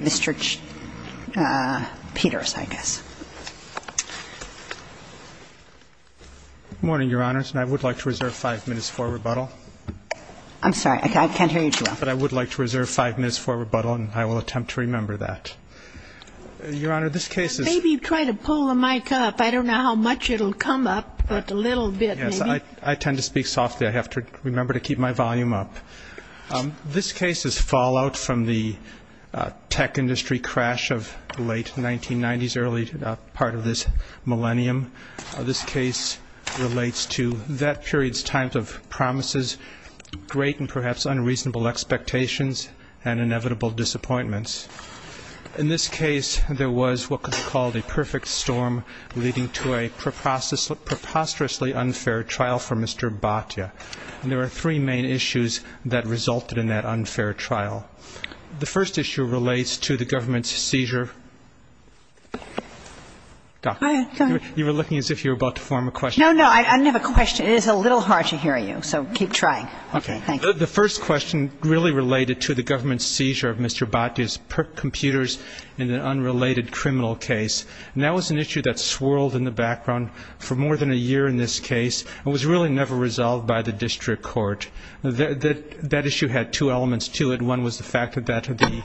Mr. Peters, I guess. Good morning, Your Honors, and I would like to reserve 5 minutes for rebuttal. I'm sorry, I can't hear you too well. But I would like to reserve 5 minutes for rebuttal, and I will attempt to remember that. Your Honor, this case is ---- Maybe try to pull the mic up. I don't know how much it will come up, but a little bit maybe. Yes, I tend to speak softly. I have to remember to keep my volume up. This case is fallout from the tech industry crash of the late 1990s, early part of this millennium. This case relates to that period's times of promises, great and perhaps unreasonable expectations, and inevitable disappointments. In this case, there was what could be called a perfect storm leading to a preposterously unfair trial for Mr. Bhatia. And there are three main issues that resulted in that unfair trial. The first issue relates to the government's seizure. You were looking as if you were about to form a question. No, no, I didn't have a question. It is a little hard to hear you, so keep trying. Okay. Thank you. The first question really related to the government's seizure of Mr. Bhatia's computers in an unrelated criminal case. And that was an issue that swirled in the background for more than a year in this case and was really never resolved by the district court. That issue had two elements to it. One was the fact that the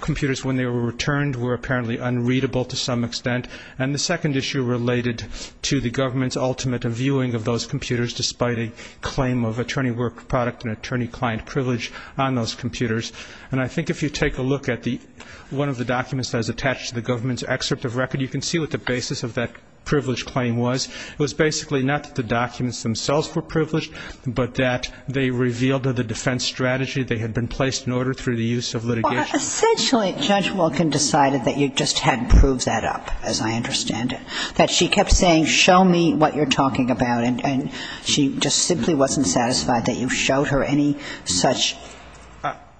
computers, when they were returned, were apparently unreadable to some extent. And the second issue related to the government's ultimate viewing of those computers, despite a claim of attorney work product and attorney-client privilege on those computers. And I think if you take a look at the one of the documents that is attached to the government's excerpt of record, you can see what the basis of that privilege claim was. It was basically not that the documents themselves were privileged, but that they revealed that the defense strategy they had been placed in order through the use of litigation. Well, essentially Judge Wilkin decided that you just hadn't proved that up, as I understand it. That she kept saying, show me what you're talking about, and she just simply wasn't satisfied that you showed her any such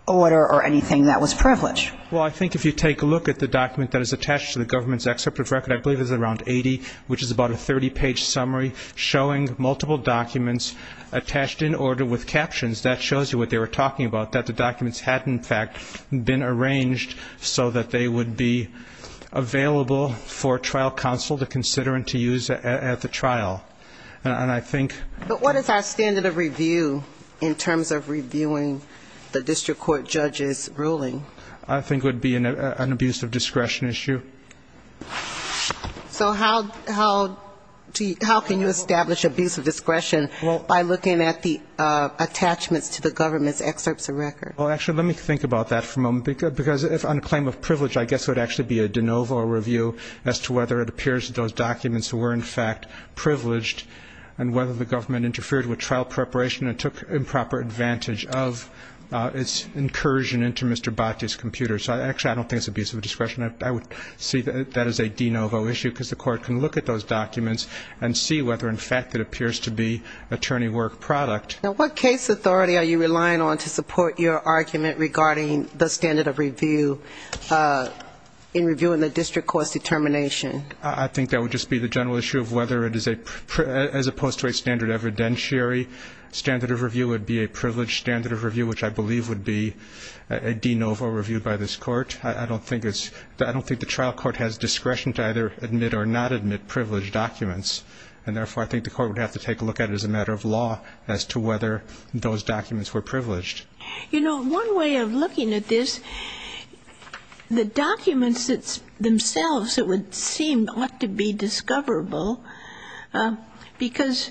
order or anything that was privileged. Well, I think if you take a look at the document that is attached to the government's excerpt of record, I believe it's around 80, which is about a 30-page summary, showing multiple documents attached in order with captions, that shows you what they were talking about, that the documents had, in fact, been arranged so that they would be available for trial counsel to consider and to use at the trial. And I think... But what is our standard of review in terms of reviewing the district court judge's ruling? I think it would be an abuse of discretion issue. So how can you establish abuse of discretion by looking at the attachments to the government's excerpts of record? Well, actually, let me think about that for a moment. Because on the claim of privilege, I guess it would actually be a de novo review as to whether it appears that those documents were, in fact, privileged, and whether the government interfered with trial preparation and took improper advantage of its incursion into Mr. Bhatti's computer. So actually, I don't think it's abuse of discretion. I would see that as a de novo issue, because the court can look at those documents and see whether, in fact, it appears to be attorney work product. Now, what case authority are you relying on to support your argument regarding the standard of review in reviewing the district court's determination? I think that would just be the general issue of whether it is a, as opposed to a standard evidentiary, standard of review would be a privileged standard of review, which I believe would be a de novo review by this Court. I don't think the trial court has discretion to either admit or not admit privileged documents. And therefore, I think the court would have to take a look at it as a matter of law as to whether those documents were privileged. You know, one way of looking at this, the documents themselves, it would seem, ought to be discoverable, because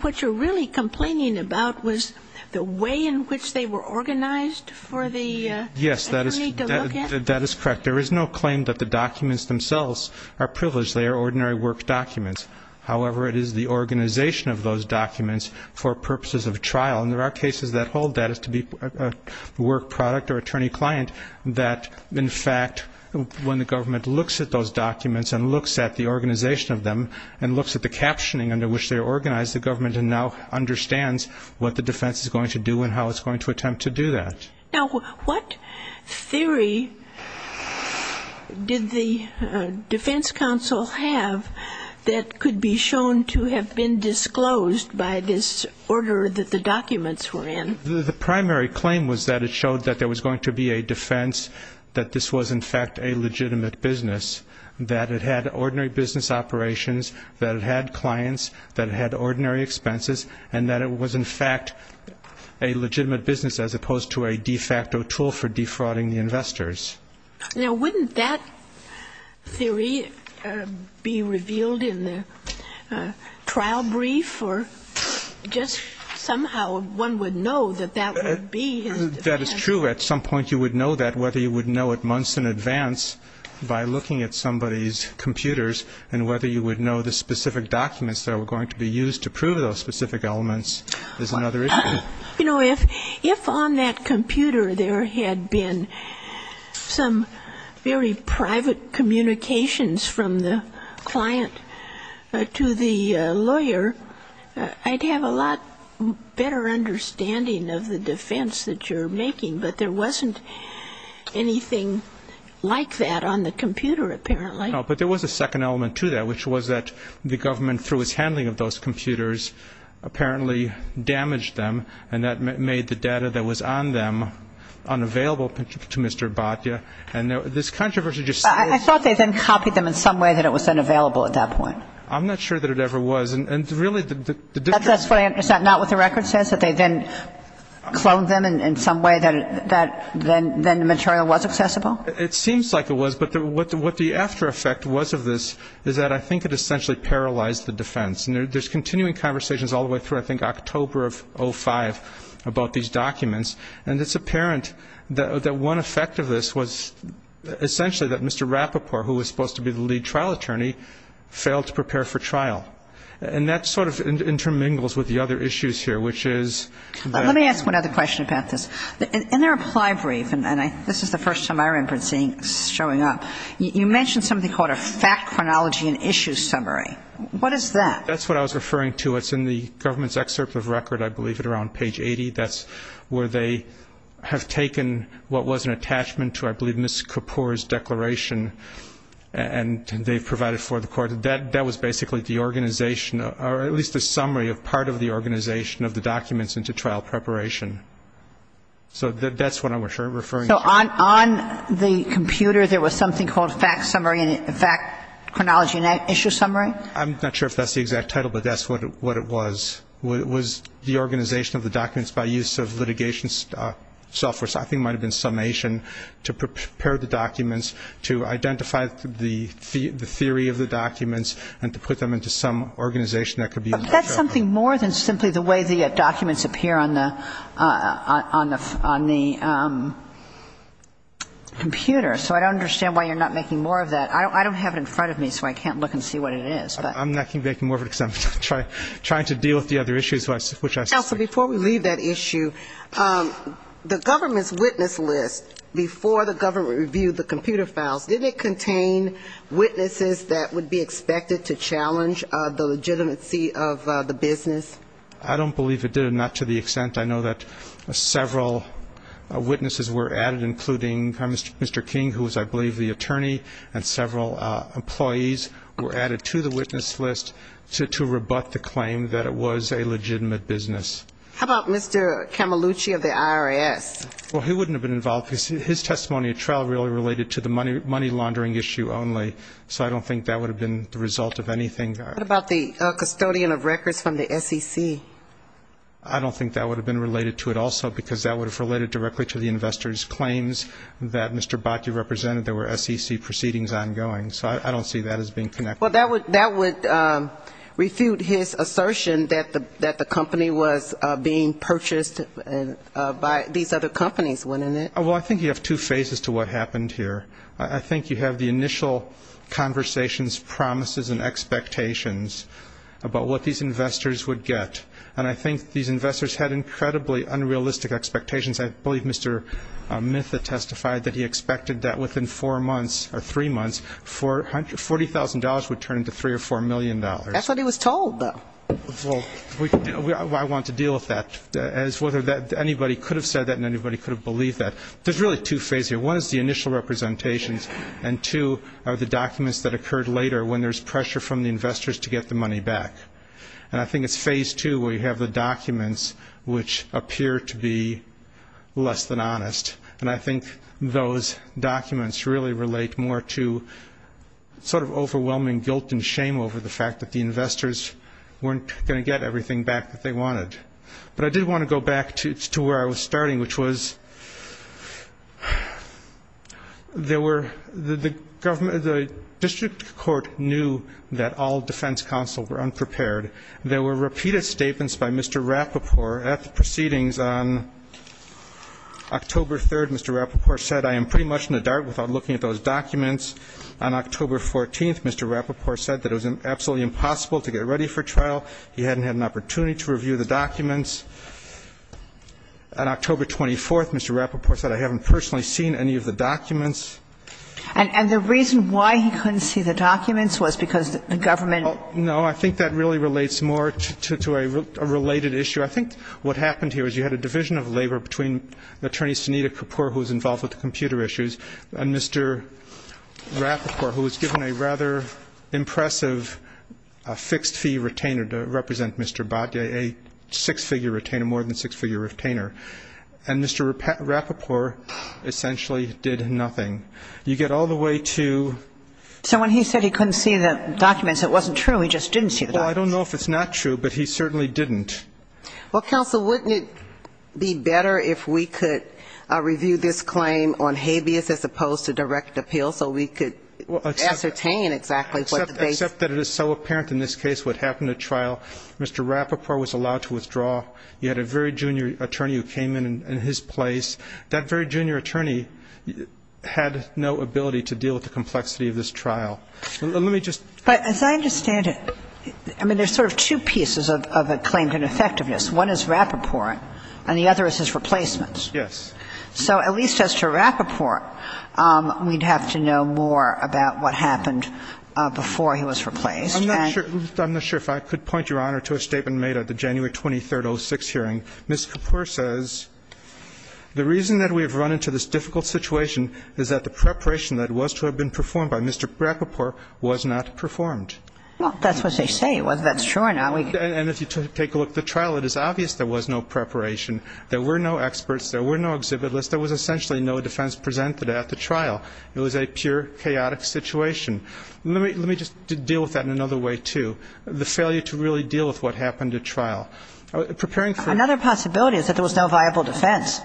what you're really complaining about was the way in which they were organized for the attorney to look at? Yes, that is correct. There is no claim that the documents themselves are privileged. They are ordinary work documents. However, it is the organization of those documents for purposes of trial, and there are cases that hold that as to be work product or attorney client, that, in fact, when the government looks at those documents and looks at the organization of them and looks at the captioning under which they are organized, the government now understands what the defense is going to do and how it's going to attempt to do that. Now, what theory did the defense counsel have that could be shown to have been disclosed by this order that the documents were in? The primary claim was that it showed that there was going to be a defense that this was, in fact, a legitimate business, that it had ordinary business operations, that it had clients, that it had ordinary expenses, and that it was, in fact, a legitimate business as opposed to a de facto tool for defrauding the investors. Now, wouldn't that theory be revealed in the trial brief, or just somehow one would know that that would be his defense? That is true. At some point you would know that, whether you would know it months in advance by looking at somebody's computers and whether you would know the specific documents that were going to be used to prove those specific elements is another issue. You know, if on that computer there had been some very private communications from the client to the lawyer, I'd have a lot better understanding of the defense that you're making. But there wasn't anything like that on the computer, apparently. No, but there was a second element to that, which was that the government, through its handling of those computers, apparently damaged them, and that made the data that was on them unavailable to Mr. Batya. I thought they then copied them in some way that it was then available at that point. I'm not sure that it ever was. That's what I understand, not what the record says, that they then cloned them in some way that then the material was accessible? It seems like it was, but what the after effect was of this is that I think it essentially paralyzed the defense. And there's continuing conversations all the way through, I think, October of 2005, about these documents, and it's apparent that one effect of this was essentially that Mr. Rapoport, who was supposed to be the lead trial attorney, failed to prepare for trial. And that sort of intermingles with the other issues here, which is that the lawyer Let me ask one other question about this. In their reply brief, and this is the first time I remember it showing up, you mentioned something called a fact chronology and issue summary. What is that? That's what I was referring to. It's in the government's excerpt of record, I believe, at around page 80. That's where they have taken what was an attachment to, I believe, Ms. Kapoor's declaration, and they've provided for the court. That was basically the organization, or at least a summary of part of the organization of the documents into trial preparation. So that's what I'm referring to. So on the computer there was something called fact chronology and issue summary? I'm not sure if that's the exact title, but that's what it was. It was the organization of the documents by use of litigation software, so I think it might have been summation, to prepare the documents, to identify the theory of the documents, and to put them into some organization. But that's something more than simply the way the documents appear on the computer, so I don't understand why you're not making more of that. I don't have it in front of me, so I can't look and see what it is. I'm not going to be making more of it because I'm trying to deal with the other issues. Counsel, before we leave that issue, the government's witness list, before the government reviewed the computer files, did it contain witnesses that would be expected to challenge the legitimacy of the business? I don't believe it did, and not to the extent I know that several witnesses were added, including Mr. King, who was, I believe, the attorney, and several employees were added to the witness list to rebut the claim that it was a legitimate business. How about Mr. Camelucci of the IRS? Well, he wouldn't have been involved because his testimony at trial really related to the money laundering issue only, so I don't think that would have been the result of anything. What about the custodian of records from the SEC? I don't think that would have been related to it also because that would have related directly to the investor's claims that Mr. Bakke represented. There were SEC proceedings ongoing, so I don't see that as being connected. Well, that would refute his assertion that the company was being purchased by these other companies, wouldn't it? Well, I think you have two phases to what happened here. I think you have the initial conversations, promises, and expectations about what these investors would get, and I think these investors had incredibly unrealistic expectations. I believe Mr. Mytha testified that he expected that within four months or three months, $40,000 would turn into $3 or $4 million. That's what he was told, though. Well, I want to deal with that as whether anybody could have said that and anybody could have believed that. There's really two phases here. One is the initial representations, and two are the documents that occurred later when there's pressure from the investors to get the money back. And I think it's phase two where you have the documents which appear to be less than honest, and I think those documents really relate more to sort of overwhelming guilt and shame over the fact that the investors weren't going to get everything back that they wanted. But I did want to go back to where I was starting, which was there were the government, the district court knew that all defense counsel were unprepared. There were repeated statements by Mr. Rapoport at the proceedings on October 3rd. Mr. Rapoport said, I am pretty much in the dark without looking at those documents. On October 14th, Mr. Rapoport said that it was absolutely impossible to get ready for trial. He hadn't had an opportunity to review the documents. On October 24th, Mr. Rapoport said, I haven't personally seen any of the documents. And the reason why he couldn't see the documents was because the government ---- No, I think that really relates more to a related issue. I think what happened here is you had a division of labor between Attorney Sunita Kapur, who was involved with the computer issues, and Mr. Rapoport, who was given a rather impressive fixed-fee retainer to represent Mr. Bhatia, a six-figure retainer, more than six-figure retainer. And Mr. Rapoport essentially did nothing. You get all the way to ---- So when he said he couldn't see the documents, it wasn't true. He just didn't see the documents. Well, I don't know if it's not true, but he certainly didn't. Well, counsel, wouldn't it be better if we could review this claim on habeas as opposed to direct appeal so we could ascertain exactly what the basis ---- Except that it is so apparent in this case what happened at trial. Mr. Rapoport was allowed to withdraw. You had a very junior attorney who came in in his place. That very junior attorney had no ability to deal with the complexity of this trial. Let me just ---- But as I understand it, I mean, there's sort of two pieces of a claim to ineffectiveness. One is Rapoport, and the other is his replacements. Yes. So at least as to Rapoport, we'd have to know more about what happened before he was replaced. I'm not sure if I could point, Your Honor, to a statement made at the January 23, 2006 hearing. Ms. Kapur says, The reason that we have run into this difficult situation is that the preparation that was to have been performed by Mr. Rapoport was not performed. Well, that's what they say, whether that's true or not. And if you take a look at the trial, it is obvious there was no preparation. There were no experts. There were no exhibit lists. There was essentially no defense presented at the trial. It was a pure chaotic situation. Let me just deal with that in another way, too, the failure to really deal with what happened at trial. Preparing for ---- Another possibility is that there was no viable defense.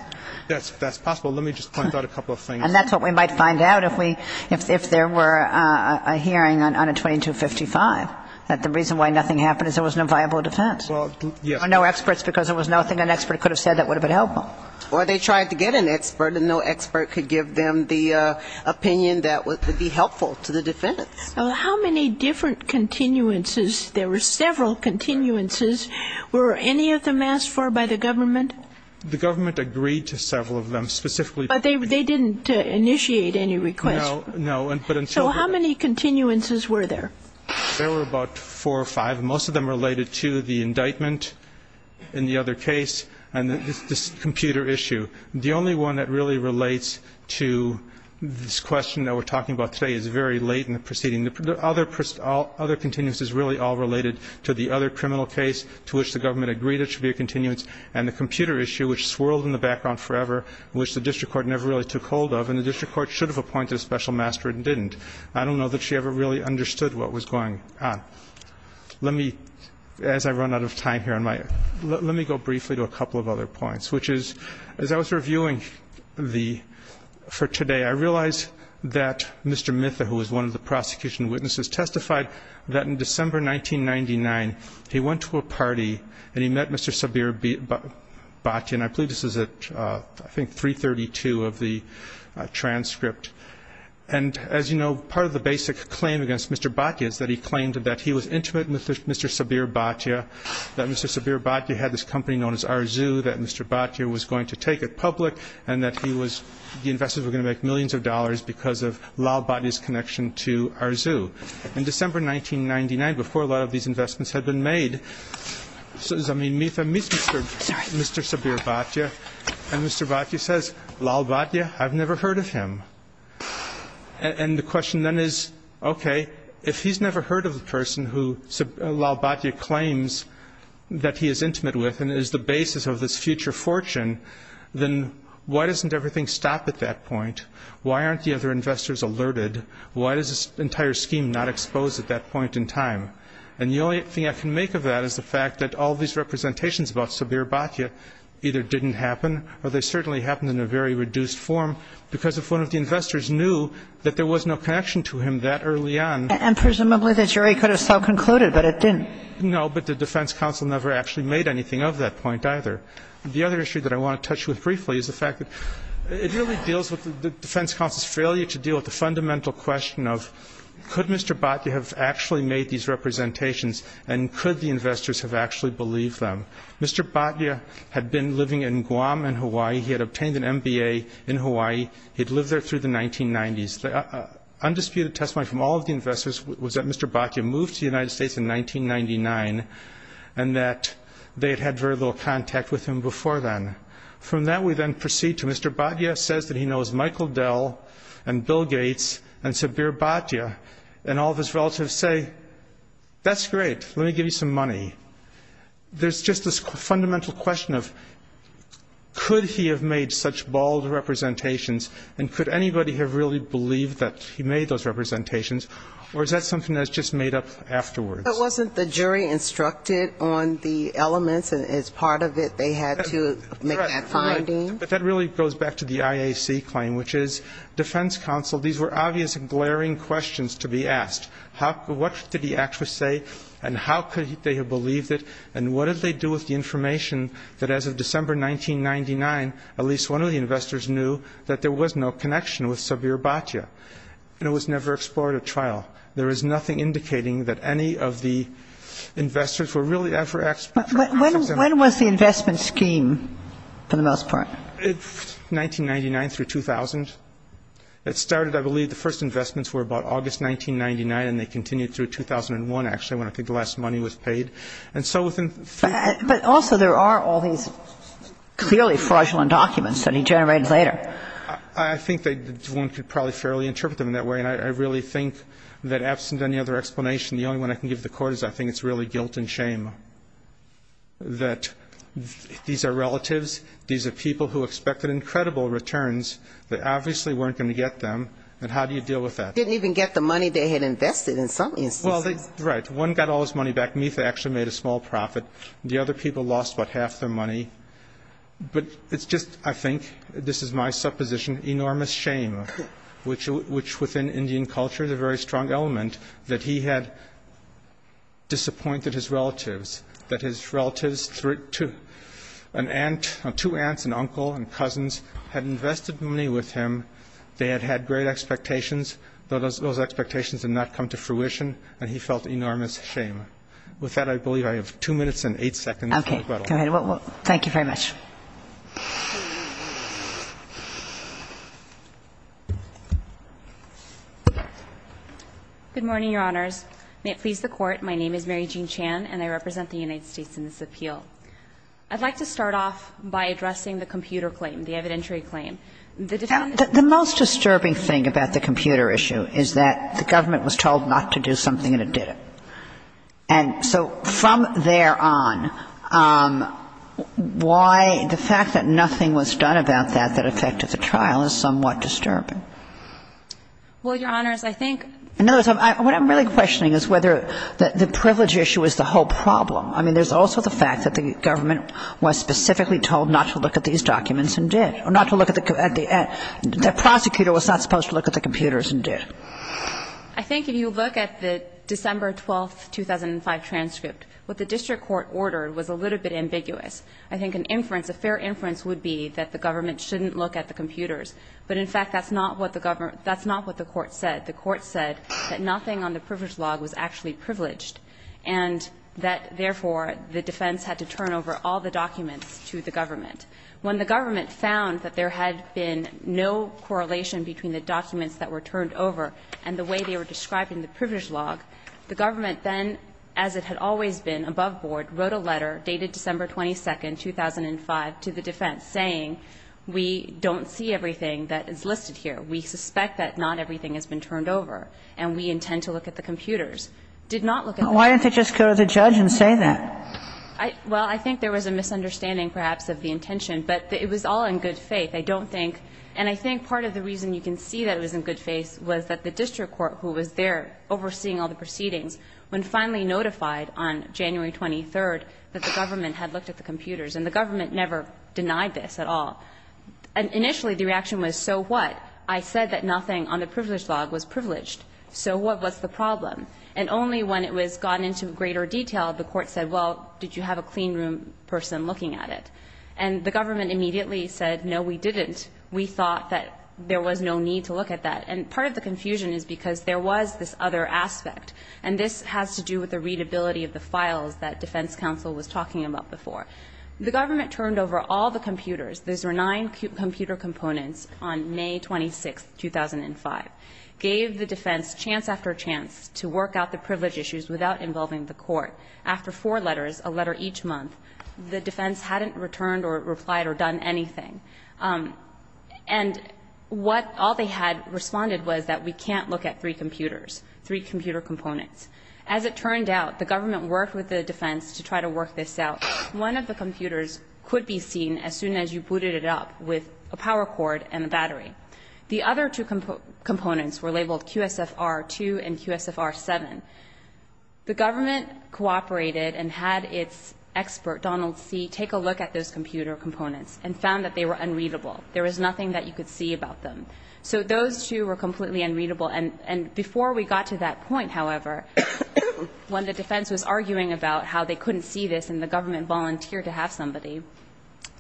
That's possible. Let me just point out a couple of things. And that's what we might find out if we ---- if there were a hearing on a 2255, that the reason why nothing happened is there was no viable defense. Well, yes. Or no experts because there was nothing an expert could have said that would have been helpful. Or they tried to get an expert, and no expert could give them the opinion that would be helpful to the defense. Well, how many different continuances ---- there were several continuances. Were any of them asked for by the government? The government agreed to several of them, specifically ---- But they didn't initiate any requests. No. So how many continuances were there? There were about four or five. Most of them related to the indictment in the other case. And this computer issue. The only one that really relates to this question that we're talking about today is very late in the proceeding. The other continuances really all related to the other criminal case to which the government agreed it should be a continuance and the computer issue, which swirled in the background forever, which the district court never really took hold of. And the district court should have appointed a special master and didn't. I don't know that she ever really understood what was going on. Let me, as I run out of time here on my ---- let me go briefly to a couple of other points, which is, as I was reviewing the ---- for today, I realized that Mr. Mitha, who was one of the prosecution witnesses, testified that in December 1999, he went to a party and he met Mr. Sabir Bhatia. And I believe this was at, I think, 332 of the transcript. And, as you know, part of the basic claim against Mr. Bhatia is that he claimed that he was intimate with Mr. Sabir Bhatia, that Mr. Sabir Bhatia had this company known as Arzu, that Mr. Bhatia was going to take it public, and that he was ---- the investors were going to make millions of dollars because of Lal Bhatia's connection to Arzu. In December 1999, before a lot of these investments had been made, I mean, Mitha meets Mr. Sabir Bhatia, and Mr. Bhatia says, Lal Bhatia, I've never heard of him. And the question then is, okay, if he's never heard of the person who Lal Bhatia claims that he is intimate with and is the basis of this future fortune, then why doesn't everything stop at that point? Why aren't the other investors alerted? Why is this entire scheme not exposed at that point in time? And the only thing I can make of that is the fact that all these representations about Sabir Bhatia either didn't happen or they certainly happened in a very reduced form, because if one of the investors knew that there was no connection to him that early on ---- And presumably the jury could have so concluded, but it didn't. No, but the defense counsel never actually made anything of that point either. The other issue that I want to touch with briefly is the fact that it really deals with the defense counsel's failure to deal with the fundamental question of, could Mr. Bhatia have actually made these representations and could the investors have actually believed them? Mr. Bhatia had been living in Guam in Hawaii. He had obtained an MBA in Hawaii. He had lived there through the 1990s. The undisputed testimony from all of the investors was that Mr. Bhatia moved to the United States in 1999 and that they had had very little contact with him before then. From that we then proceed to Mr. Bhatia says that he knows Michael Dell and Bill Gates and Sabir Bhatia and all of his relatives say, that's great. Let me give you some money. There's just this fundamental question of could he have made such bald representations and could anybody have really believed that he made those representations or is that something that's just made up afterwards? But wasn't the jury instructed on the elements and as part of it they had to make that finding? Correct. But that really goes back to the IAC claim, which is defense counsel, these were obvious and glaring questions to be asked. What did the actress say and how could they have believed it and what did they do with the information that as of December 1999, at least one of the investors knew that there was no connection with Sabir Bhatia and it was never explored at trial. There is nothing indicating that any of the investors were really ever asked. When was the investment scheme for the most part? It's 1999 through 2000. It started, I believe, the first investments were about August 1999 and they continued through 2001 actually when I think the last money was paid. But also there are all these clearly fraudulent documents that he generated later. I think one could probably fairly interpret them in that way and I really think that absent any other explanation, the only one I can give the court is I think it's really guilt and shame that these are relatives, these are people who expected incredible returns that obviously weren't going to get them, and how do you deal with that? They didn't even get the money they had invested in some instances. Right. One got all his money back. Mitha actually made a small profit. The other people lost about half their money. But it's just, I think, this is my supposition, enormous shame, which within Indian culture is a very strong element that he had disappointed his relatives, that his relatives, two aunts, an uncle, and cousins had invested money with him. They had had great expectations. Those expectations had not come to fruition and he felt enormous shame. With that, I believe I have two minutes and eight seconds. Okay. Go ahead. Thank you very much. Good morning, Your Honors. May it please the Court, my name is Mary Jean Chan and I represent the United States in this appeal. I'd like to start off by addressing the computer claim, the evidentiary claim. The most disturbing thing about the computer issue is that the government was told not to do something and it didn't. And so from there on, why is it that, the fact that nothing was done about that that affected the trial is somewhat disturbing? Well, Your Honors, I think In other words, what I'm really questioning is whether the privilege issue is the whole problem. I mean, there's also the fact that the government was specifically told not to look at these documents and did. Or not to look at the, the prosecutor was not supposed to look at the computers and did. I think if you look at the December 12, 2005 transcript, what the district court ordered was a little bit ambiguous. I think an inference, a fair inference would be that the government shouldn't look at the computers. But in fact, that's not what the government, that's not what the court said. The court said that nothing on the privilege log was actually privileged and that therefore the defense had to turn over all the documents to the government. When the government found that there had been no correlation between the documents that were turned over and the way they were described in the privilege log, the government then, as it had always been above board, wrote a letter dated December 22, 2005 to the defense saying we don't see everything that is listed here. We suspect that not everything has been turned over and we intend to look at the computers. Did not look at the computers. Why didn't they just go to the judge and say that? Well, I think there was a misunderstanding perhaps of the intention, but it was all in good faith. I don't think, and I think part of the reason you can see that it was in good faith was that the district court, who was there overseeing all the proceedings, when finally notified on January 23 that the government had looked at the computers and the government never denied this at all. And initially the reaction was, so what? I said that nothing on the privilege log was privileged. So what was the problem? And only when it was gotten into greater detail, the court said, well, did you have a clean room person looking at it? And the government immediately said, no, we didn't. We thought that there was no need to look at that. And part of the confusion is because there was this other aspect. And this has to do with the readability of the files that defense counsel was talking about before. The government turned over all the computers. Those were nine computer components on May 26, 2005. Gave the defense chance after chance to work out the privilege issues without involving the court. After four letters, a letter each month, the defense hadn't returned or replied or done anything. And what all they had responded was that we can't look at three computers, three computer components. As it turned out, the government worked with the defense to try to work this out. One of the computers could be seen as soon as you booted it up with a power cord and a battery. The other two components were labeled QSFR-2 and QSFR-7. The government cooperated and had its expert, Donald See, take a look at those two computer components and found that they were unreadable. There was nothing that you could see about them. So those two were completely unreadable. And before we got to that point, however, when the defense was arguing about how they couldn't see this and the government volunteered to have somebody,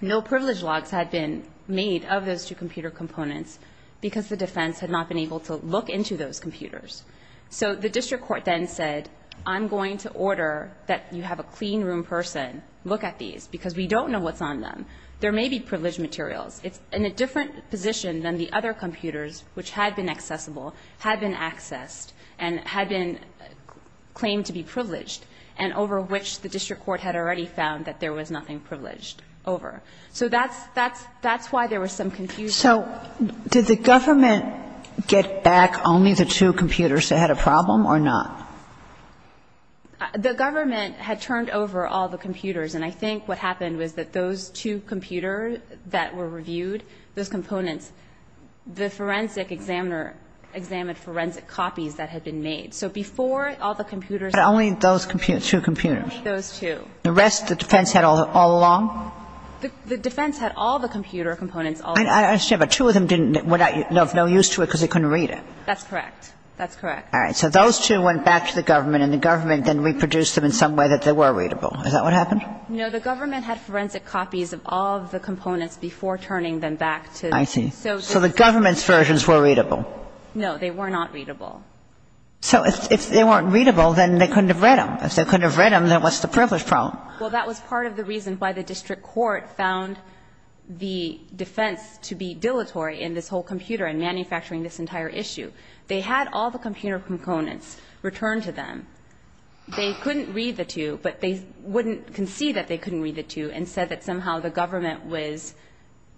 no privilege logs had been made of those two computer components because the defense had not been able to look into those computers. So the district court then said, I'm going to order that you have a clean room person look at these because we don't know what's on them. There may be privileged materials. It's in a different position than the other computers which had been accessible, had been accessed, and had been claimed to be privileged and over which the district court had already found that there was nothing privileged over. So that's why there was some confusion. So did the government get back only the two computers that had a problem or not? The government had turned over all the computers. And I think what happened was that those two computers that were reviewed, those components, the forensic examiner examined forensic copies that had been made. So before all the computers were reviewed. But only those two computers? Only those two. The rest the defense had all along? The defense had all the computer components all along. I understand. But two of them didn't have no use to it because they couldn't read it. That's correct. That's correct. All right. So those two went back to the government and the government then reproduced them in some way that they were readable. Is that what happened? No. The government had forensic copies of all of the components before turning them back to the district court. I see. So the government's versions were readable? No. They were not readable. So if they weren't readable, then they couldn't have read them. If they couldn't have read them, then what's the privilege problem? Well, that was part of the reason why the district court found the defense to be dilatory in this whole computer and manufacturing this entire issue. They had all the computer components returned to them. They couldn't read the two, but they wouldn't concede that they couldn't read the two and said that somehow the government was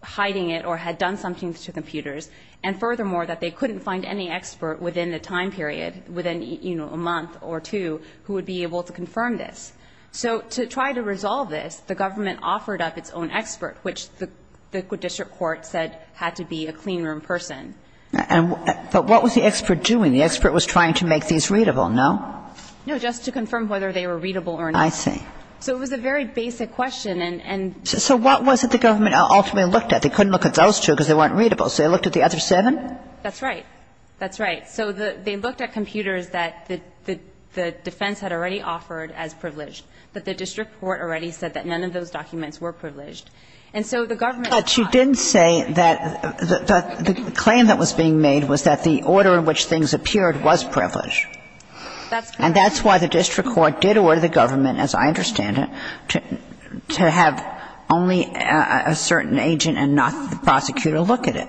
hiding it or had done something to the computers. And furthermore, that they couldn't find any expert within the time period, within, you know, a month or two, who would be able to confirm this. So to try to resolve this, the government offered up its own expert, which the district court said had to be a cleanroom person. But what was the expert doing? The expert was trying to make these readable, no? No, just to confirm whether they were readable or not. I see. So it was a very basic question. And so what was it the government ultimately looked at? They couldn't look at those two because they weren't readable. So they looked at the other seven? That's right. That's right. So they looked at computers that the defense had already offered as privileged, that the district court already said that none of those documents were privileged. And so the government thought. But you didn't say that the claim that was being made was that the order in which things appeared was privileged. That's correct. And that's why the district court did order the government, as I understand it, to have only a certain agent and not the prosecutor look at it.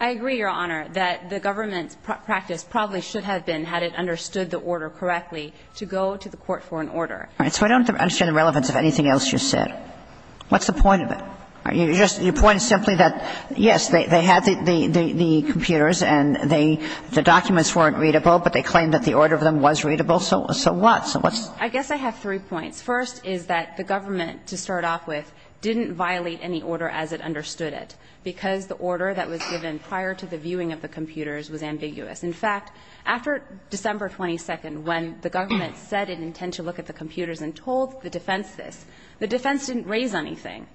I agree, Your Honor, that the government's practice probably should have been, had it understood the order correctly, to go to the court for an order. All right. So I don't understand the relevance of anything else you said. What's the point of it? Are you just – your point is simply that, yes, they had the computers and the documents weren't readable, but they claimed that the order of them was readable. So what? So what's the point? I guess I have three points. First is that the government, to start off with, didn't violate any order as it understood it, because the order that was given prior to the viewing of the computers was ambiguous. In fact, after December 22nd, when the government said it intended to look at the computers and told the defense this, the defense didn't raise anything.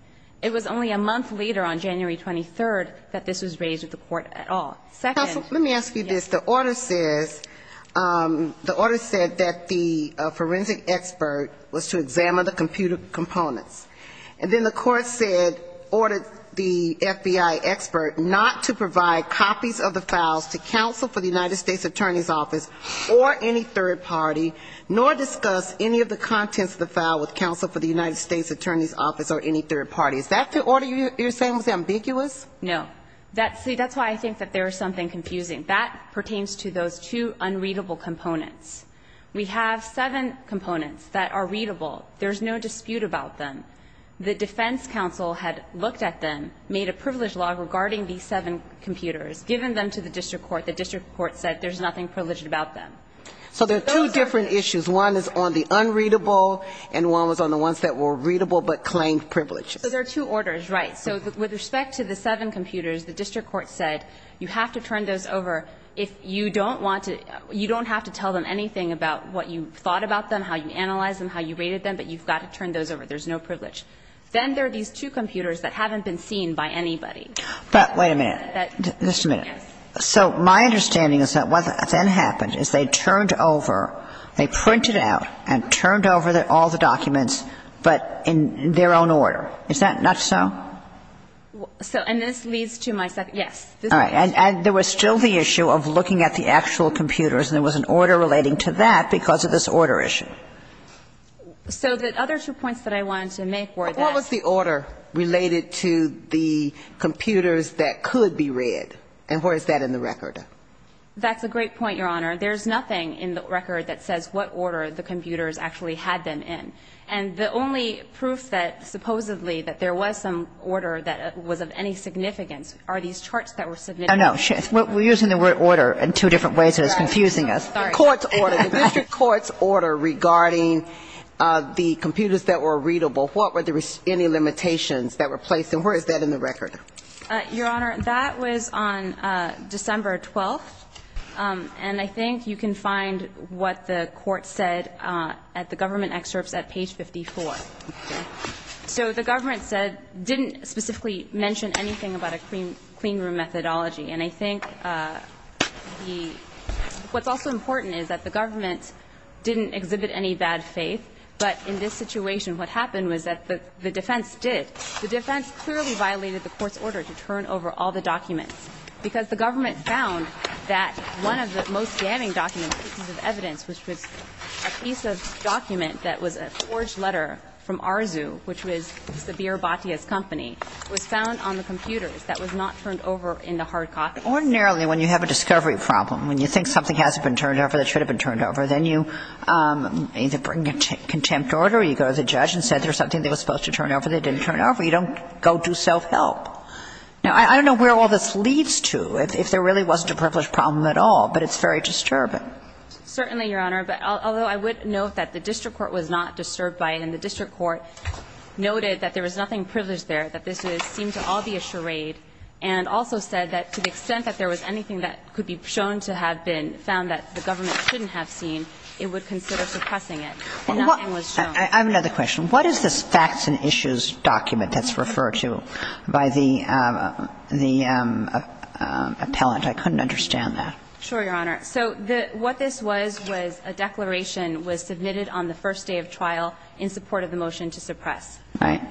It was only a month later, on January 23rd, that this was raised with the court at all. Second – Counsel, let me ask you this. The order says – the order said that the forensic expert was to examine the computer components. And then the court said – ordered the FBI expert not to provide copies of the files to counsel for the United States Attorney's Office or any third party, nor discuss any of the contents of the file with counsel for the United States Attorney's Office or any third party. Is that the order you're saying was ambiguous? No. See, that's why I think that there is something confusing. That pertains to those two unreadable components. We have seven components that are readable. There's no dispute about them. The defense counsel had looked at them, made a privilege law regarding these seven computers, given them to the district court. The district court said there's nothing privileged about them. So there are two different issues. One is on the unreadable, and one was on the ones that were readable but claimed privileges. So there are two orders, right. So with respect to the seven computers, the district court said you have to turn those over if you don't want to – you don't have to tell them anything about what you thought about them, how you analyzed them, how you rated them, but you've got to turn those over. There's no privilege. Then there are these two computers that haven't been seen by anybody. But wait a minute. Just a minute. Yes. So my understanding is that what then happened is they turned over – they printed out and turned over all the documents, but in their own order. Is that not so? And this leads to my second – yes. And there was still the issue of looking at the actual computers, and there was an order relating to that because of this order issue. So the other two points that I wanted to make were that – But what was the order related to the computers that could be read, and where is that in the record? That's a great point, Your Honor. There's nothing in the record that says what order the computers actually had them And the only proof that supposedly that there was some order that was of any significance are these charts that were submitted. Oh, no. We're using the word order in two different ways, and it's confusing us. Sorry. The court's order. The district court's order regarding the computers that were readable, what were any limitations that were placed, and where is that in the record? Your Honor, that was on December 12th, and I think you can find what the court said at the government excerpts at page 54. Okay? So the government said – didn't specifically mention anything about a clean room methodology. And I think the – what's also important is that the government didn't exhibit any bad faith, but in this situation, what happened was that the defense did. The defense clearly violated the court's order to turn over all the documents because the government found that one of the most damning documents, pieces of evidence, which was a piece of document that was a forged letter from Arzu, which was Sabir Batia's company, was found on the computers that was not turned over into hard copies. Ordinarily, when you have a discovery problem, when you think something hasn't been turned over that should have been turned over, then you either bring a contempt order or you go to the judge and say there's something that was supposed to turn over that didn't turn over. You don't go do self-help. Now, I don't know where all this leads to, if there really wasn't a privileged problem at all, but it's very disturbing. But certainly, Your Honor, although I would note that the district court was not disturbed by it, and the district court noted that there was nothing privileged there, that this seemed to all be a charade, and also said that to the extent that there was anything that could be shown to have been found that the government shouldn't have seen, it would consider suppressing it. Nothing was shown. I have another question. What is this facts and issues document that's referred to by the appellant? I couldn't understand that. Sure, Your Honor. So what this was, was a declaration was submitted on the first day of trial in support of the motion to suppress. Right.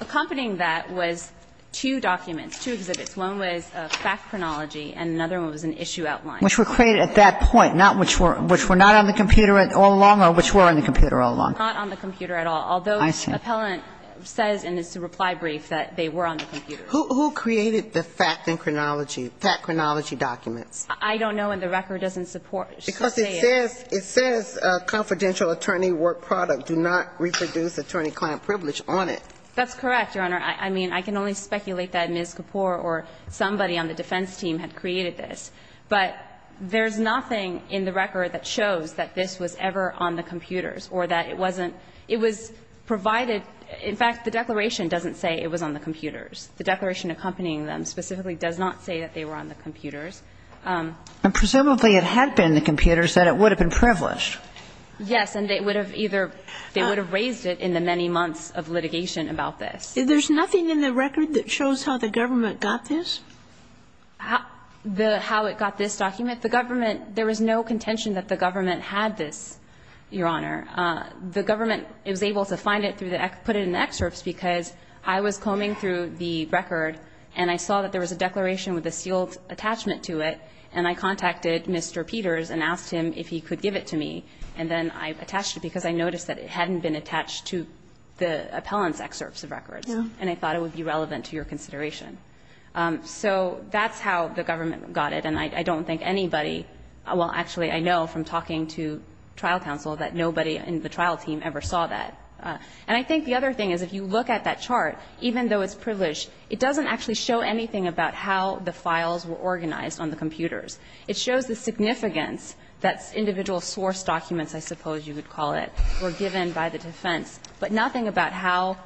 Accompanying that was two documents, two exhibits. One was a fact chronology and another one was an issue outline. Which were created at that point, not which were not on the computer all along or which were on the computer all along? Not on the computer at all, although the appellant says in his reply brief that they were on the computer. Who created the fact and chronology, fact chronology documents? I don't know, and the record doesn't support it. Because it says, it says confidential attorney work product, do not reproduce attorney client privilege on it. That's correct, Your Honor. I mean, I can only speculate that Ms. Kapoor or somebody on the defense team had created this. But there's nothing in the record that shows that this was ever on the computers or that it wasn't. It was provided. In fact, the declaration doesn't say it was on the computers. The declaration accompanying them specifically does not say that they were on the computers. And presumably it had been the computers, that it would have been privileged. Yes. And they would have either raised it in the many months of litigation about this. There's nothing in the record that shows how the government got this? How it got this document? The government, there was no contention that the government had this, Your Honor. The government was able to find it, put it in excerpts because I was combing through the record and I saw that there was a declaration with a sealed attachment to it, and I contacted Mr. Peters and asked him if he could give it to me. And then I attached it because I noticed that it hadn't been attached to the appellant's excerpts of records. No. And I thought it would be relevant to your consideration. So that's how the government got it. And I don't think anybody, well, actually I know from talking to trial counsel that nobody in the trial team ever saw that. And I think the other thing is if you look at that chart, even though it's privileged, it doesn't actually show anything about how the files were organized on the computers. It shows the significance that individual source documents, I suppose you would call it, were given by the defense, but nothing about how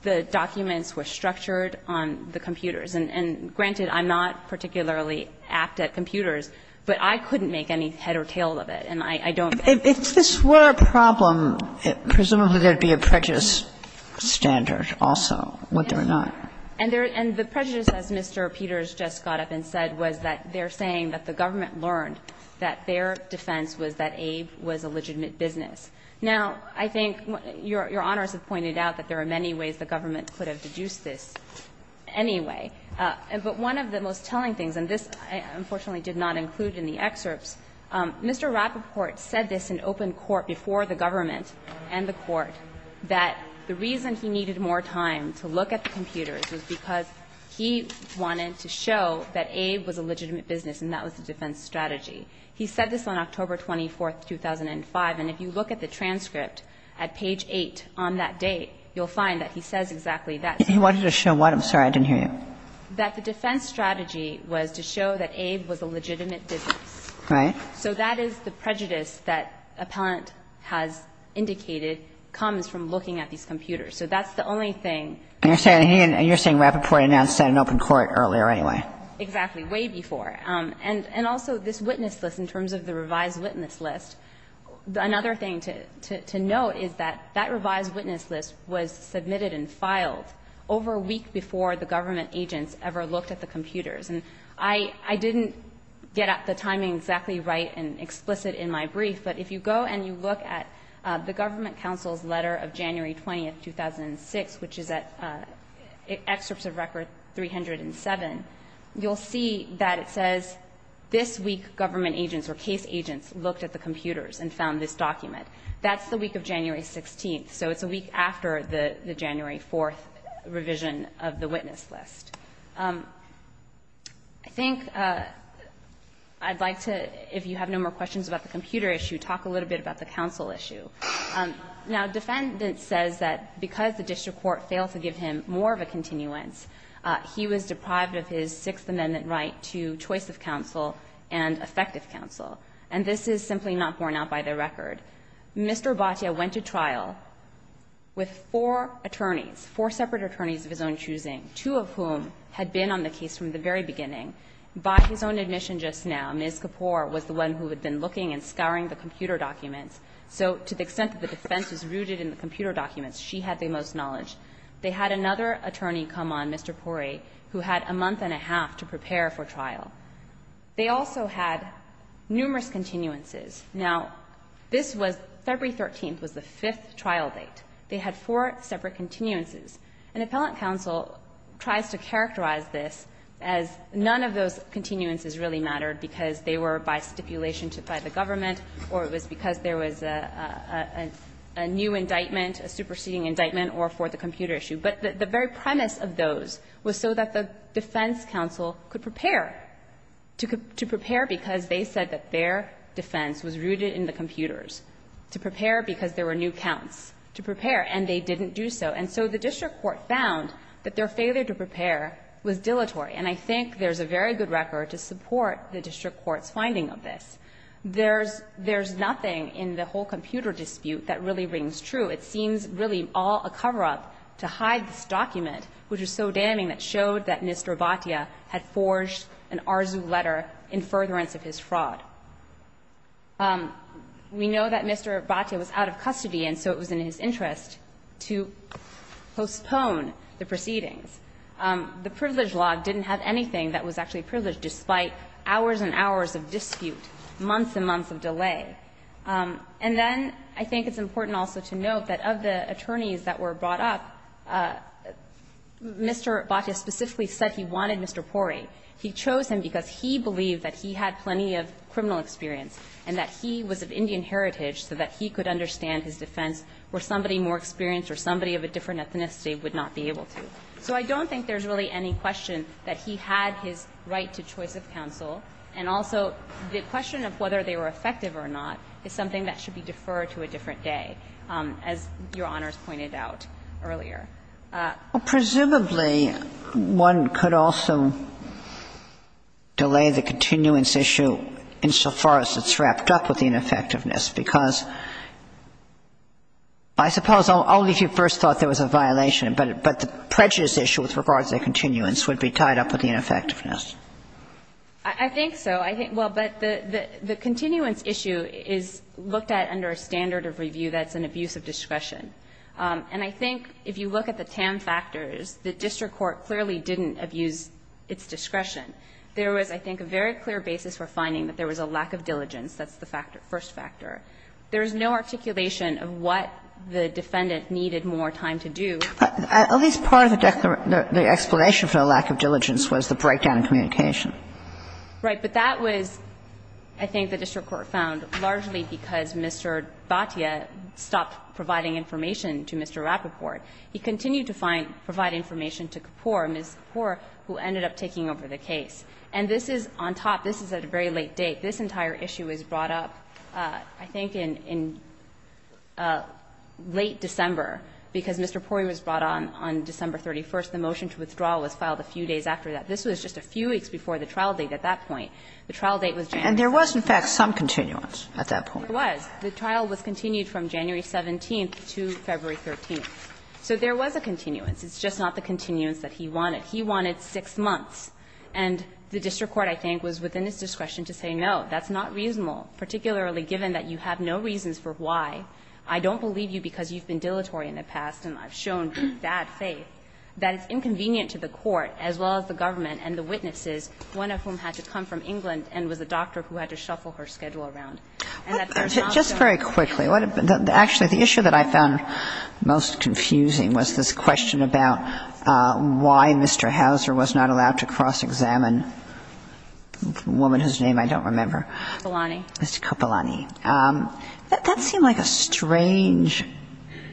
the documents were structured on the computers. And granted, I'm not particularly apt at computers, but I couldn't make any head or tail of it. And I don't. If this were a problem, presumably there would be a prejudice standard also, wouldn't there not? And the prejudice, as Mr. Peters just got up and said, was that they're saying that the government learned that their defense was that Abe was a legitimate business. Now, I think your Honors have pointed out that there are many ways the government could have deduced this anyway. But one of the most telling things, and this I unfortunately did not include in the defense strategy, is that the defense strategy said this in open court before the government and the court, that the reason he needed more time to look at the computers was because he wanted to show that Abe was a legitimate business and that was the defense strategy. He said this on October 24, 2005, and if you look at the transcript at page 8 on that date, you'll find that he says exactly that. Kagan. He wanted to show what? I'm sorry, I didn't hear you. He said that the defense strategy was to show that Abe was a legitimate business. Right. So that is the prejudice that Appellant has indicated comes from looking at these computers. So that's the only thing. And you're saying Rappaport announced that in open court earlier anyway. Exactly, way before. And also this witness list in terms of the revised witness list, another thing to note is that that revised witness list was submitted and filed over a week before the government agents ever looked at the computers. And I didn't get the timing exactly right and explicit in my brief, but if you go and you look at the government counsel's letter of January 20, 2006, which is at Excerpts of Record 307, you'll see that it says this week government agents or case agents looked at the computers and found this document. That's the week of January 16th. So it's a week after the January 4th revision of the witness list. I think I'd like to, if you have no more questions about the computer issue, talk a little bit about the counsel issue. Now, defendant says that because the district court failed to give him more of a continuance, he was deprived of his Sixth Amendment right to choice of counsel and effective counsel. And this is simply not borne out by the record. Mr. Bhatia went to trial with four attorneys, four separate attorneys of his own choosing, two of whom had been on the case from the very beginning. By his own admission just now, Ms. Kapoor was the one who had been looking and scouring the computer documents. So to the extent that the defense was rooted in the computer documents, she had the most knowledge. They had another attorney come on, Mr. Pori, who had a month and a half to prepare for trial. They also had numerous continuances. Now, this was February 13th was the fifth trial date. They had four separate continuances. And appellant counsel tries to characterize this as none of those continuances really mattered because they were by stipulation by the government or it was because there was a new indictment, a superseding indictment, or for the computer issue. But the very premise of those was so that the defense counsel could prepare, to prepare because they said that their defense was rooted in the computers, to prepare because there were new counts, to prepare, and they didn't do so. And so the district court found that their failure to prepare was dilatory. And I think there's a very good record to support the district court's finding of this. There's nothing in the whole computer dispute that really rings true. It seems really all a cover-up to hide this document, which is so damning, that showed that Mr. Abbatea had forged an ARZU letter in furtherance of his fraud. We know that Mr. Abbatea was out of custody, and so it was in his interest to postpone the proceedings. The privilege law didn't have anything that was actually privileged, despite hours and hours of dispute, months and months of delay. And then I think it's important also to note that of the attorneys that were brought up, Mr. Abbatea specifically said he wanted Mr. Porey. He chose him because he believed that he had plenty of criminal experience and that he was of Indian heritage so that he could understand his defense where somebody more experienced or somebody of a different ethnicity would not be able to. So I don't think there's really any question that he had his right to choice of counsel, and also the question of whether they were effective or not is something that should be deferred to a different day, as Your Honors pointed out. Earlier. Ginsburg. Presumably, one could also delay the continuance issue insofar as it's wrapped up with the ineffectiveness, because I suppose only if you first thought there was a violation, but the prejudice issue with regards to continuance would be tied up with the ineffectiveness. I think so. I think the continuance issue is looked at under a standard of review that's an abuse of discretion. And I think if you look at the TAM factors, the district court clearly didn't abuse its discretion. There was, I think, a very clear basis for finding that there was a lack of diligence. That's the first factor. There is no articulation of what the defendant needed more time to do. At least part of the explanation for the lack of diligence was the breakdown in communication. Right. But that was, I think, the district court found largely because Mr. Abbatea stopped providing information to Mr. Rappaport. He continued to find to provide information to Kapoor, Ms. Kapoor, who ended up taking over the case. And this is on top, this is at a very late date. This entire issue was brought up, I think, in late December, because Mr. Poirier was brought on on December 31st. The motion to withdraw was filed a few days after that. This was just a few weeks before the trial date at that point. The trial date was January 31st. And there was, in fact, some continuance at that point. There was. The trial was continued from January 17th to February 13th. So there was a continuance. It's just not the continuance that he wanted. He wanted 6 months. And the district court, I think, was within its discretion to say, no, that's not reasonable, particularly given that you have no reasons for why. I don't believe you because you've been dilatory in the past and I've shown bad faith that it's inconvenient to the court as well as the government and the witnesses, one of whom had to come from England and was a doctor who had to shuffle her schedule around. And that there's not going to be a reason for that. Just very quickly, actually, the issue that I found most confusing was this question about why Mr. Houser was not allowed to cross-examine a woman whose name I don't remember. Mr. Copolani. Mr. Copolani. That seemed like a strange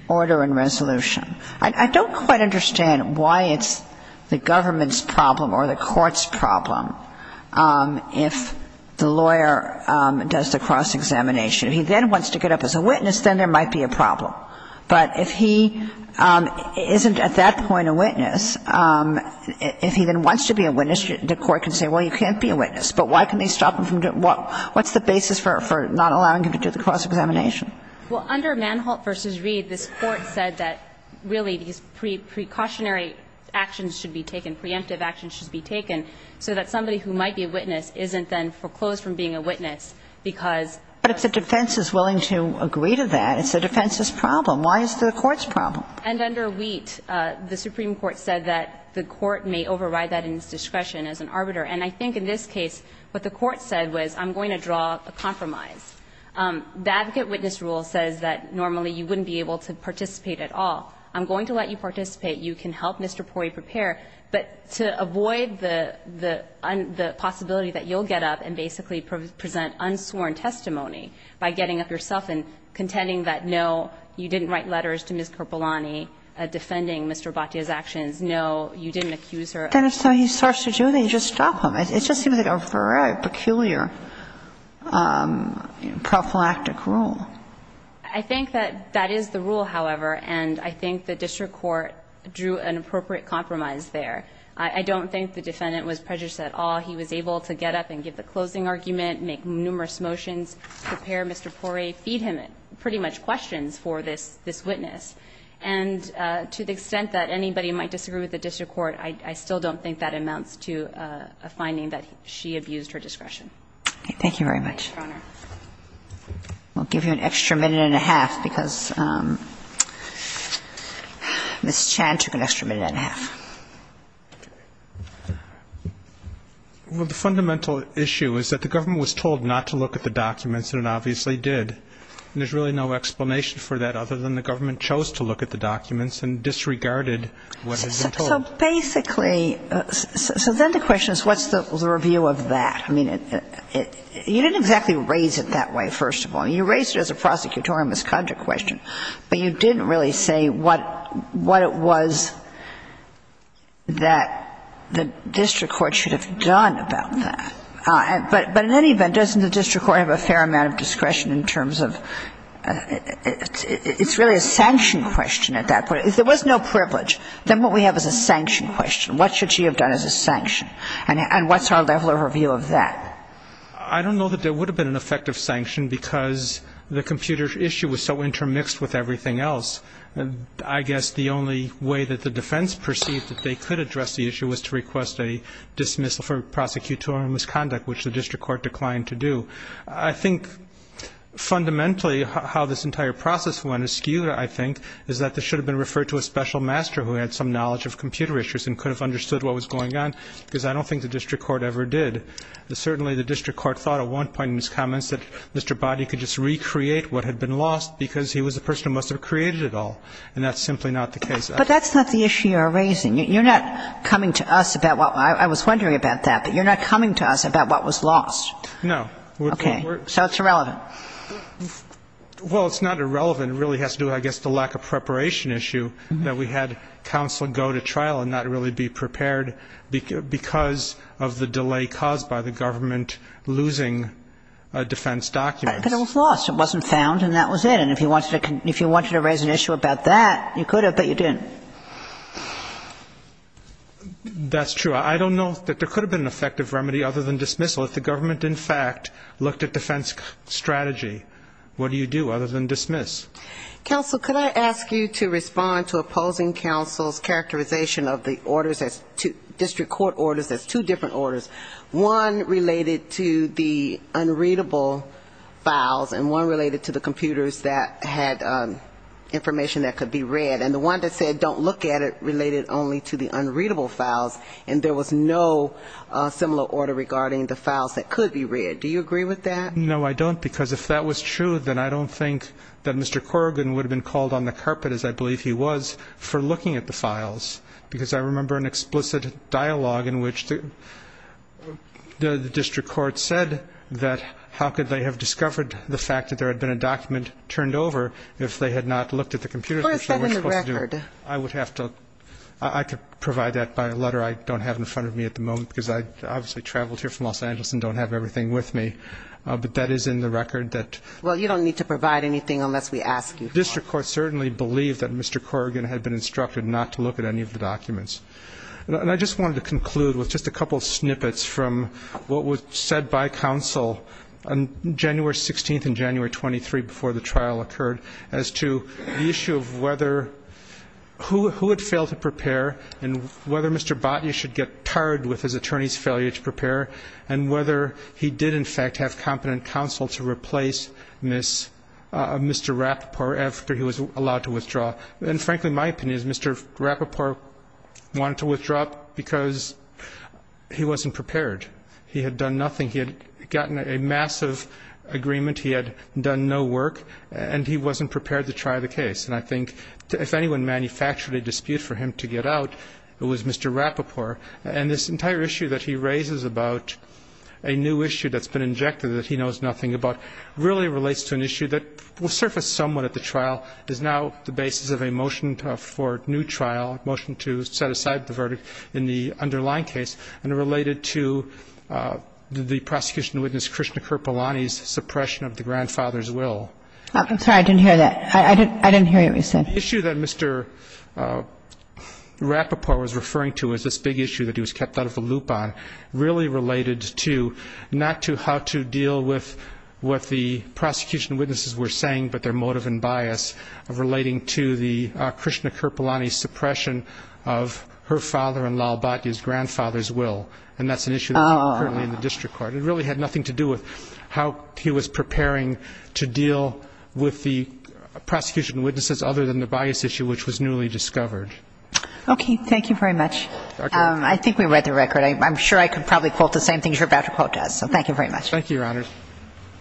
order and resolution. I don't quite understand why it's the government's problem or the court's problem if the lawyer does the cross-examination. If he then wants to get up as a witness, then there might be a problem. But if he isn't at that point a witness, if he then wants to be a witness, the court can say, well, you can't be a witness, but why can they stop him from doing that? What's the basis for not allowing him to do the cross-examination? Well, under Manholt v. Reed, this Court said that really these precautionary actions should be taken, preemptive actions should be taken, so that somebody who might be a witness isn't then foreclosed from being a witness because But if the defense is willing to agree to that, it's the defense's problem. Why is the court's problem? And under Wheat, the Supreme Court said that the court may override that in its discretion as an arbiter. And I think in this case, what the court said was, I'm going to draw a compromise. The advocate witness rule says that normally you wouldn't be able to participate at all. I'm going to let you participate. You can help Mr. Pori prepare. But to avoid the possibility that you'll get up and basically present unsworn testimony by getting up yourself and contending that, no, you didn't write letters to Ms. Kerbalani defending Mr. Abbatea's actions, no, you didn't accuse her of any of that. Then if he starts to do that, you just stop him. It just seems like a very peculiar prophylactic rule. I think that that is the rule, however, and I think the district court drew an appropriate compromise there. I don't think the defendant was prejudiced at all. He was able to get up and give the closing argument, make numerous motions, prepare Mr. Pori, feed him pretty much questions for this witness. And to the extent that anybody might disagree with the district court, I still don't think that amounts to a finding that she abused her discretion. Thank you very much. We'll give you an extra minute and a half, because Ms. Chan took an extra minute and a half. Well, the fundamental issue is that the government was told not to look at the documents and it obviously did. And there's really no explanation for that other than the government chose to look at the documents and disregarded what had been told. So basically, so then the question is what's the review of that? I mean, you didn't exactly raise it that way, first of all. You raised it as a prosecutorial misconduct question, but you didn't really say what it was that the district court should have done about that. But in any event, doesn't the district court have a fair amount of discretion in terms of – it's really a sanction question at that point. If there was no privilege, then what we have is a sanction question. What should she have done as a sanction? And what's her level of review of that? I don't know that there would have been an effective sanction because the computer issue was so intermixed with everything else. I guess the only way that the defense perceived that they could address the issue was to request a dismissal for prosecutorial misconduct, which the district court declined to do. I think fundamentally how this entire process went is skewed, I think, is that this should have been referred to a special master who had some knowledge of computer issues and could have understood what was going on, because I don't think the district court ever did. Certainly the district court thought at one point in his comments that Mr. Boddy could just recreate what had been lost because he was a person who must have created it all, and that's simply not the case. But that's not the issue you're raising. You're not coming to us about what – I was wondering about that, but you're not coming to us about what was lost. No. Okay. So it's irrelevant. Well, it's not irrelevant. It really has to do, I guess, with the lack of preparation issue that we had counsel go to trial and not really be prepared because of the delay caused by the government losing defense documents. But it was lost. It wasn't found, and that was it. And if you wanted to raise an issue about that, you could have, but you didn't. That's true. I don't know that there could have been an effective remedy other than dismissal. If the government, in fact, looked at defense strategy, what do you do other than dismiss? Counsel, could I ask you to respond to opposing counsel's characterization of the orders as – district court orders as two different orders, one related to the unreadable files and one related to the computers that had information that could be read. And the one that said don't look at it related only to the unreadable files, and there was no similar order regarding the files that could be read. Do you agree with that? No, I don't. Because if that was true, then I don't think that Mr. Corrigan would have been called on the carpet, as I believe he was, for looking at the files. Because I remember an explicit dialogue in which the district court said that how could they have discovered the fact that there had been a document turned over if they had not looked at the computers, which they were supposed to do? Or is that in the record? I would have to – I could provide that by a letter I don't have in front of me at the moment because I obviously traveled here from Los Angeles and don't have everything with me. But that is in the record that – Well, you don't need to provide anything unless we ask you to. The district court certainly believed that Mr. Corrigan had been instructed not to look at any of the documents. And I just wanted to conclude with just a couple snippets from what was said by counsel on January 16th and January 23rd before the trial occurred as to the issue of whether – who had failed to prepare and whether Mr. Botnia should get tired with his attorney's failure to prepare and whether he did in fact have competent counsel to replace Mr. Rapoport after he was allowed to withdraw. And frankly, my opinion is Mr. Rapoport wanted to withdraw because he wasn't prepared. He had done nothing. He had gotten a massive agreement. He had done no work. And he wasn't prepared to try the case. And I think if anyone manufactured a dispute for him to get out, it was Mr. Rapoport. And this entire issue that he raises about a new issue that's been injected that he knows nothing about really relates to an issue that will surface somewhat at the trial is now the basis of a motion for new trial, motion to set aside the verdict in the underlying case and related to the prosecution witness, Krishnakirpalani's suppression of the grandfather's will. I'm sorry. I didn't hear that. I didn't hear what you said. The issue that Mr. Rapoport was referring to is this big issue that he was kept out of the loop on, really related to not to how to deal with what the prosecution witnesses were saying, but their motive and bias of relating to the Krishnakirpalani suppression of her father-in-law's grandfather's will. And that's an issue that's currently in the district court. It really had nothing to do with how he was preparing to deal with the prosecution witnesses other than the bias issue which was newly discovered. Okay. Thank you very much. I think we read the record. I'm sure I could probably quote the same things you're about to quote to us. So thank you very much. Thank you. Thank you. Thank you. Thank you. Thank you.